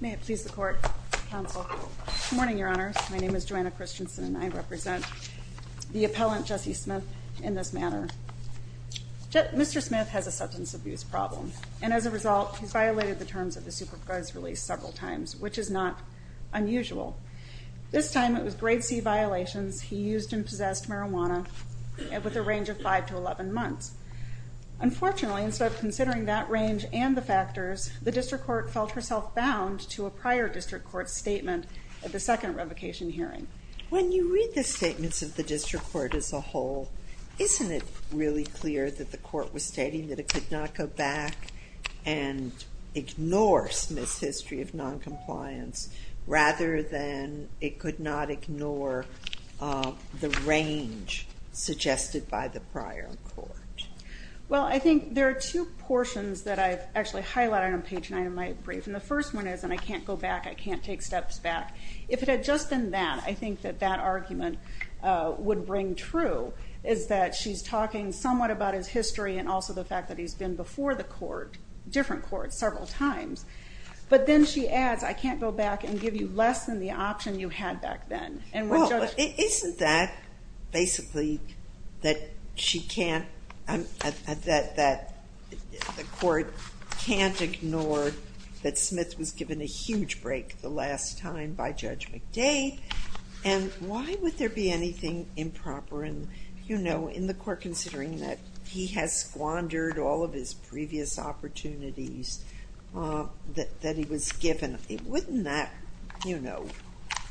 May it please the Court, Counsel. Good morning, Your Honor. My name is Joanna Christensen and I represent the appellant, Jesse Smith, in this matter. Mr. Smith has a substance abuse problem, and as a result, he's violated the terms of the Supercourts release several times, which is not unusual. This time it was Grade C violations. He used and possessed marijuana with a range of 5 to 11 months. Unfortunately, instead of considering that range and the factors, the District Court felt herself bound to a prior District Court statement at the second revocation hearing. When you read the statements of the District Court as a whole, isn't it really clear that the Court was stating that it could not go back and ignore Smith's history of noncompliance, rather than it could not ignore the range suggested by the prior Court? Well, I think there are two portions that I've actually highlighted on page 9 of my brief, and the first one is, and I can't go back, I can't take steps back. If it had just been that, I think that that argument would bring true, is that she's talking somewhat about his history and also the fact that he's been before the Court, different Courts, several times. But then she adds, I can't go back and give you less than the option you had back then. Well, but isn't that basically that she can't, that the Court can't ignore that Smith was given a huge break the last time by Judge McDade, and why would there be anything improper in the Court considering that he has squandered all of his previous opportunities that he was given? Wouldn't that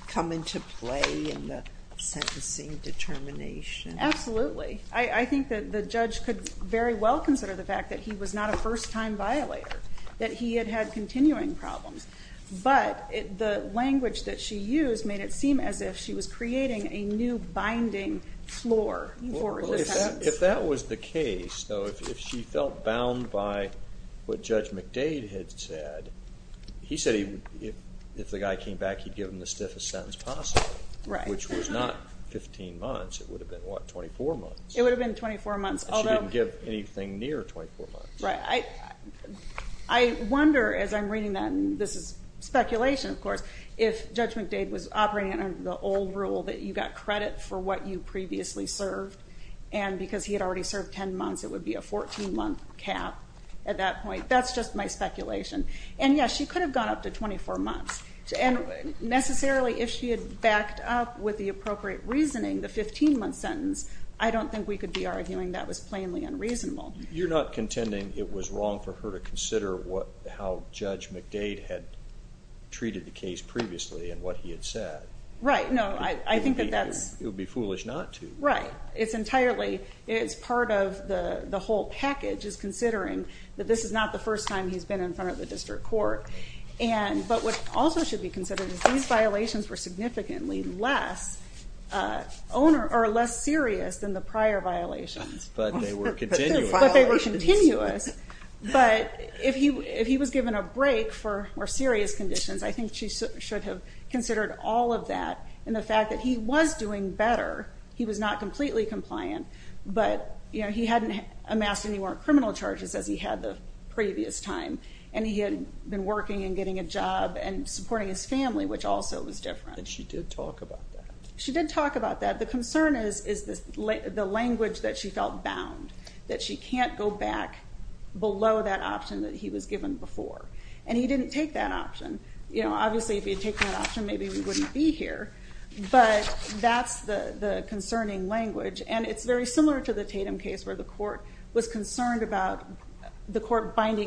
come into play in the sentencing determination? Absolutely. I think that the judge could very well consider the fact that he was not a first-time violator, that he had had continuing problems, but the language that she used made it seem as if she was creating a new binding floor for his sentence. If that was the case, though, if she felt bound by what Judge McDade had said, he said if the guy came back he'd give him the stiffest sentence possible, which was not 15 months, it would have been, what, 24 months. It would have been 24 months, although She didn't give anything near 24 months. Right. I wonder, as I'm reading that, and this is speculation, of course, if Judge McDade was operating under the old rule that you got credit for what you previously served, and because he had already served 10 months it would be a 14-month cap at that point. That's just my speculation. And yes, she could have gone up to 24 months, and necessarily if she had backed up with the appropriate reasoning, the 15-month sentence, I don't think we could be arguing that was plainly unreasonable. You're not contending it was wrong for her to consider how Judge McDade had treated the case previously and what he had said. Right, no, I think that that's... It would be foolish not to. Right. It's entirely, it's part of the whole package is considering that this is not the first time he's been in front of the District Court, but what also should be less serious than the prior violations. But they were continuous. But they were continuous. But if he was given a break for more serious conditions, I think she should have considered all of that, and the fact that he was doing better, he was not completely compliant, but he hadn't amassed any more criminal charges as he had the previous time, and he had been working and getting a job and supporting his family, which also was different. And she did talk about that. She did talk about that. The concern is the language that she felt bound, that she can't go back below that option that he was given before. And he didn't take that option. Obviously, if he had taken that option, maybe we wouldn't be here, but that's the concerning language. And it's very similar to the Tatum case where the court was concerned before taking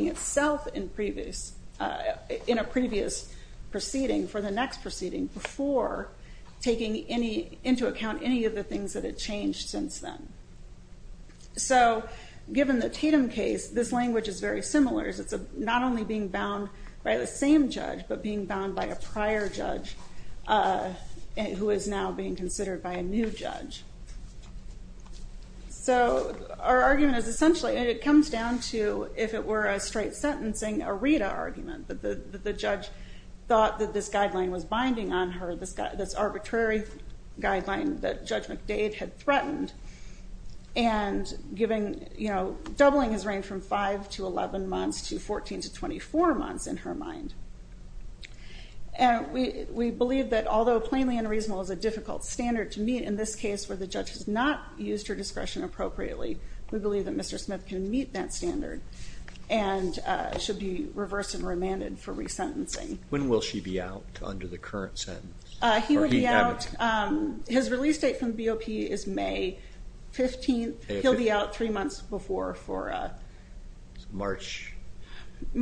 into account any of the things that had changed since then. So given the Tatum case, this language is very similar. It's not only being bound by the same judge, but being bound by a prior judge who is now being considered by a new judge. So our argument is essentially, and it comes down to, if it were a straight sentencing, a Rita argument. The judge thought that this guideline was binding on her, this arbitrary guideline that Judge McDade had threatened, and doubling his reign from 5 to 11 months to 14 to 24 months in her mind. We believe that although plainly unreasonable is a difficult standard to meet in this case where the judge has not used her discretion appropriately, we believe that Mr. Smith can meet that standard and should be reversed and remanded for resentencing. When will she be out under the current sentence? He will be out, his release date from the BOP is May 15th. He'll be out three months before, for March,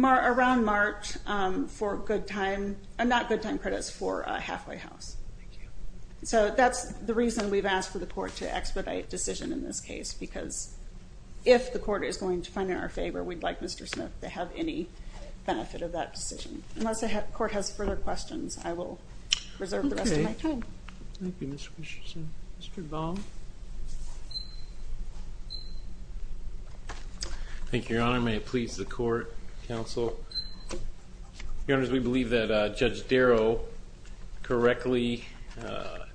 around March for good time, not good time credits, for halfway house. So that's the reason we've expedited the decision in this case, because if the court is going to find it in our favor, we'd like Mr. Smith to have any benefit of that decision. Unless the court has further questions, I will reserve the rest of my time. Okay. Thank you, Ms. Richardson. Mr. Baum. Thank you, Your Honor. May it please the court, counsel. Your Honor, we believe that Judge Darrow correctly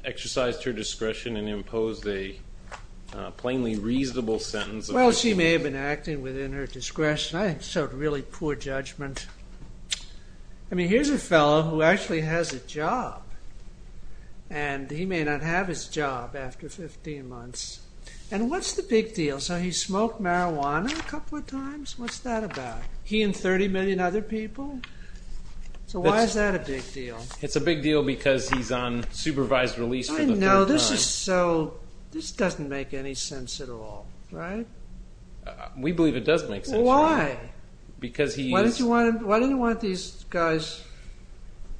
exercised her discretion and imposed a plainly reasonable sentence. Well, she may have been acting within her discretion. I think it's sort of really poor judgment. I mean, here's a fellow who actually has a job, and he may not have his job after 15 months. And what's the big deal? So he smoked marijuana a couple of times? What's that about? He and 30 million other people? So why is that a big deal? It's a big deal because he's on supervised release for the third time. I know. This is so... This doesn't make any sense at all, right? We believe it does make sense. Why? Because he is... Why don't you want... Why do you want these guys...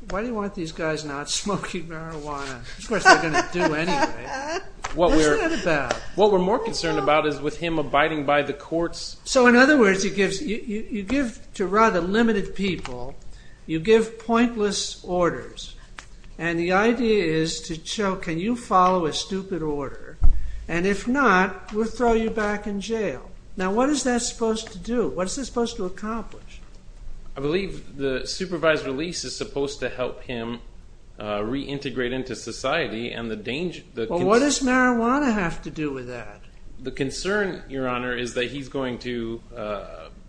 Why do you want these guys not smoking marijuana? Of course, they're going to do anyway. What's that about? What we're more concerned about is with him abiding by the court's... So in other words, you give to rather limited people, you give pointless orders. And the idea is to show, can you follow a stupid order? And if not, we'll throw you back in jail. Now, what is that supposed to do? What is this supposed to accomplish? I believe the supervised release is supposed to help him reintegrate into society and the danger... Well, what does marijuana have to do with that? The concern, Your Honor, is that he's going to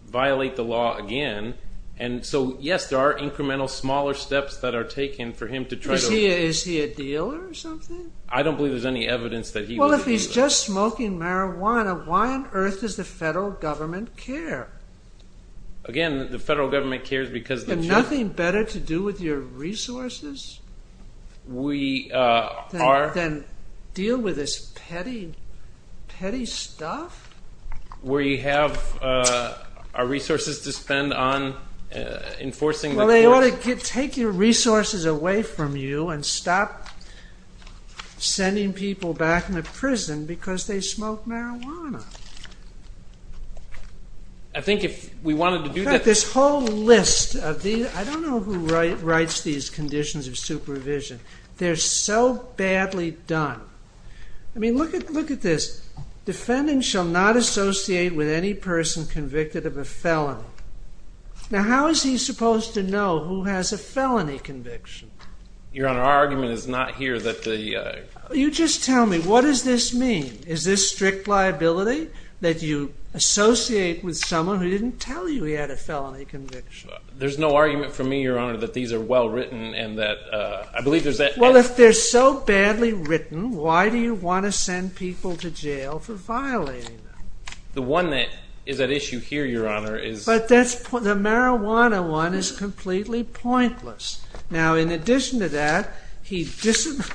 violate the law again. And so, yes, there are incremental smaller steps that are taken for him to try to... Is he a dealer or something? I don't believe there's any evidence that he was a dealer. Well, if he's just smoking marijuana, why on earth does the federal government care? Again, the federal government cares because... And nothing better to do with your resources? We are... Than deal with this petty, petty stuff? Where you have our resources to spend on enforcing the court... Well, they ought to take your resources away from you and stop sending people back into prison because they smoke marijuana. I think if we wanted to do that... In fact, this whole list of these... I don't know who writes these conditions of supervision. They're so badly done. I mean, look at this. Defendant shall not associate with any person convicted of a felony. Now, how is he supposed to know who has a felony conviction? Your Honor, our argument is not here that the... You just tell me, what does this mean? Is this strict liability that you associate with someone who didn't tell you he had a felony conviction? There's no argument for me, Your Honor, that these are well-written and that... I believe there's that... Well, if they're so badly written, why do you want to send people to jail for violating them? The one that is at issue here, Your Honor, is... But that's... The marijuana one is completely pointless. Now, in addition to that, he disobeyed...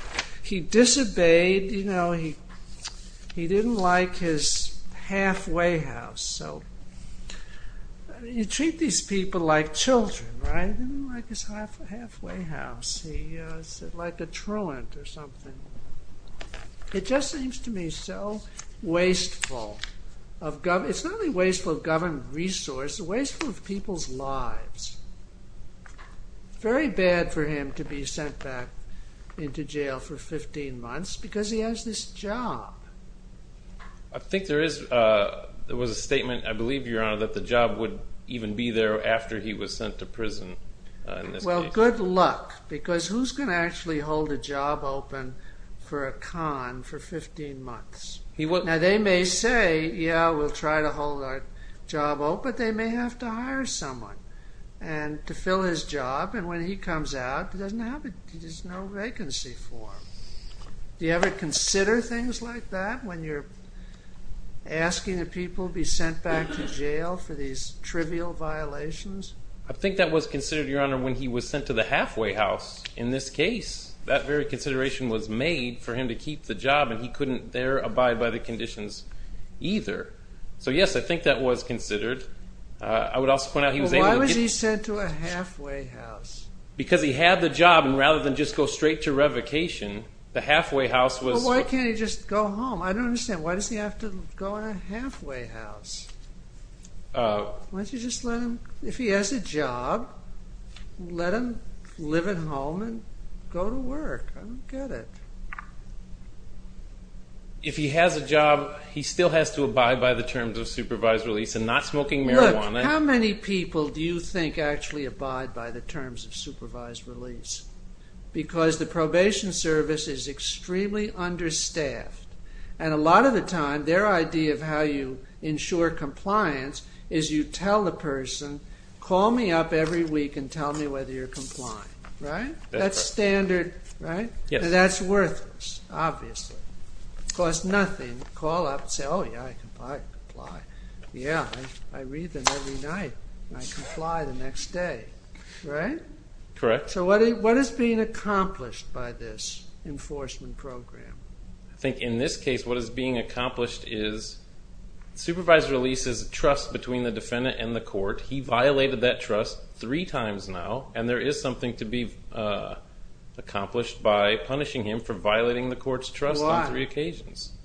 He didn't like his halfway house, so... You treat these people like children, right? He didn't like his halfway house. He said, like a truant or something. It just seems to me so wasteful of government... It's not only wasteful of government resource, it's wasteful of people's lives. Very bad for him to be sent back into jail for 15 months because he has this job. I think there is... There was a statement, I believe, Your Honor, that the job would even be there after he was sent to prison in this case. Well, good luck, because who's going to actually hold a job open for a con for 15 months? Now, they may say, yeah, we'll try to hold our job open, but they may have to hire someone to fill his job, and when he comes out, there's no vacancy for him. Do you ever consider things like that, when you're asking the people to be sent back to jail for these trivial violations? I think that was considered, Your Honor, when he was sent to the halfway house in this case. That very consideration was made for him to keep the job, and he couldn't there abide by the conditions either. So, yes, I think that was considered. I would also point out he was able to get... Well, why was he sent to a halfway house? Because he had the job, and rather than just go straight to revocation, the halfway house was... Well, why can't he just go home? I don't understand. Why does he have to go in a halfway house? Why don't you just let him... If he has a job, let him live at home and go to work. I don't get it. If he has a job, he still has to abide by the terms of supervised release and not smoking marijuana. How many people do you think actually abide by the terms of supervised release? Because the probation service is extremely understaffed, and a lot of the time, their idea of how you ensure compliance is you tell the person, call me up every week and tell me whether you're complying. Right? That's standard, right? Yes. That's worthless, obviously. It costs nothing to call up and say, oh, yeah, I comply. Yeah, I read them every night. I comply the next day. Right? Correct. So what is being accomplished by this enforcement program? I think in this case, what is being accomplished is supervised release is trust between the defendant and the court. He violated that trust three times now, and there is something to be accomplished by punishing him for violating the court's trust on three occasions. Why?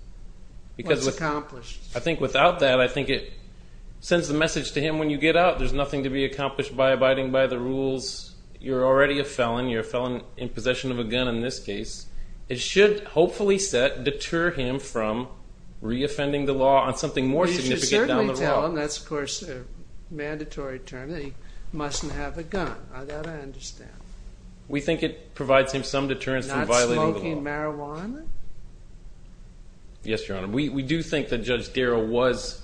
What's accomplished? I think without that, I think it sends the message to him, when you get out, there's nothing to be accomplished by abiding by the rules. You're already a felon. You're a felon in possession of a gun in this case. It should hopefully deter him from re-offending the law on something more significant down the road. You should certainly tell him, that's of course a mandatory term, that he mustn't have a gun. That I understand. We think it provides him some deterrence from violating the law. Not smoking marijuana? Yes, Your Honor. We do think that Judge Darrow was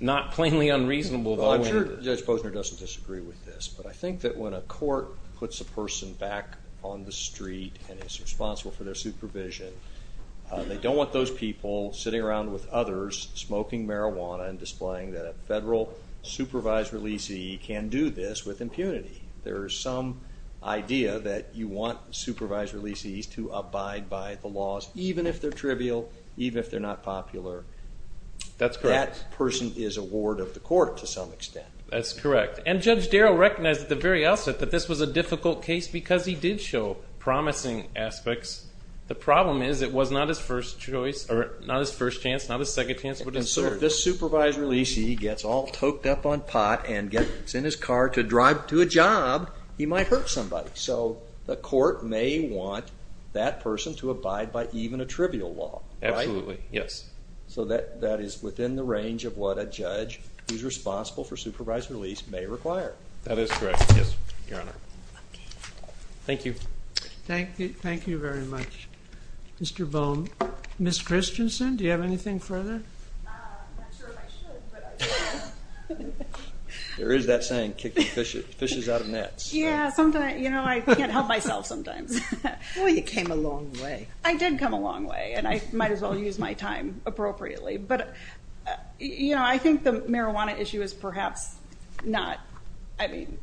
not plainly unreasonable. I'm sure Judge Posner doesn't disagree with this, but I think that when a court puts a person back on the street and is responsible for their supervision, they don't want those people sitting around with others smoking marijuana and displaying that a federal supervised releasee can do this with impunity. There is some idea that you want supervised releasees to abide by the laws, even if they're trivial, even if they're not popular. That's correct. That person is a ward of the court, to some extent. That's correct. And Judge Darrow recognized at the very outset that this was a difficult case because he did show promising aspects. The problem is, it was not his first choice, or not his first chance, not his second chance, but his third. So if this supervised releasee gets all choked up on pot and gets in his car to drive to a job, he might hurt somebody. So the court may want that person to abide by even a trivial law. Absolutely, yes. So that is within the range of what a judge who's responsible for supervised release may require. That is correct, yes, Your Honor. Okay. Thank you. Thank you very much, Mr. Bohm. Ms. Christensen, do you have anything further? I'm not sure if I should, but I will. There is that saying, kicking fishes out of nets. Yeah, sometimes, you know, I can't help myself sometimes. Well, you came a long way. I did come a long way, and I might as well use my time appropriately. But, you know, I think the marijuana issue is perhaps not, I mean,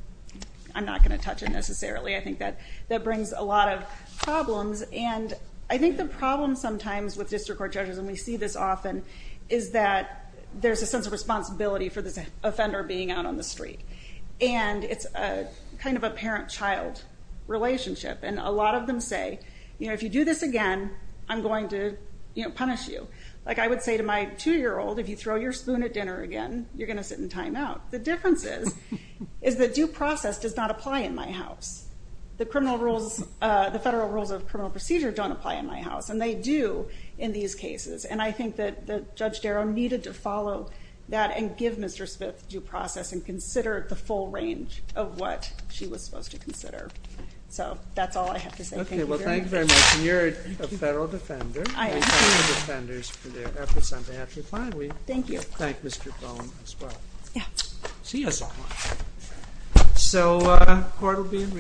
I'm not going to touch it necessarily. I think that brings a lot of problems, and I think the problem sometimes with district court judges, and we see this often, is that there's a sense of responsibility for this offender being out on the street. And it's kind of a parent-child relationship, and a lot of them say, you know, if you do this again, I'm going to, you know, punish you. Like I would say to my two-year-old, if you throw your spoon at dinner again, you're going to sit in timeout. The difference is, is that due process does not apply in my house. The criminal rules, the federal rules of criminal procedure don't apply in my house, and they do in these cases. And I think that Judge Darrow needed to follow that and give Mr. Smith due process and consider the full range of what she was supposed to consider. So that's all I have to say. Thank you very much. Okay. Well, thank you very much. And you're a federal defender. I am. We thank the defenders for their efforts on behalf of the client. Thank you. We thank Mr. Bone as well. Yeah. See you soon. So court will be in recess.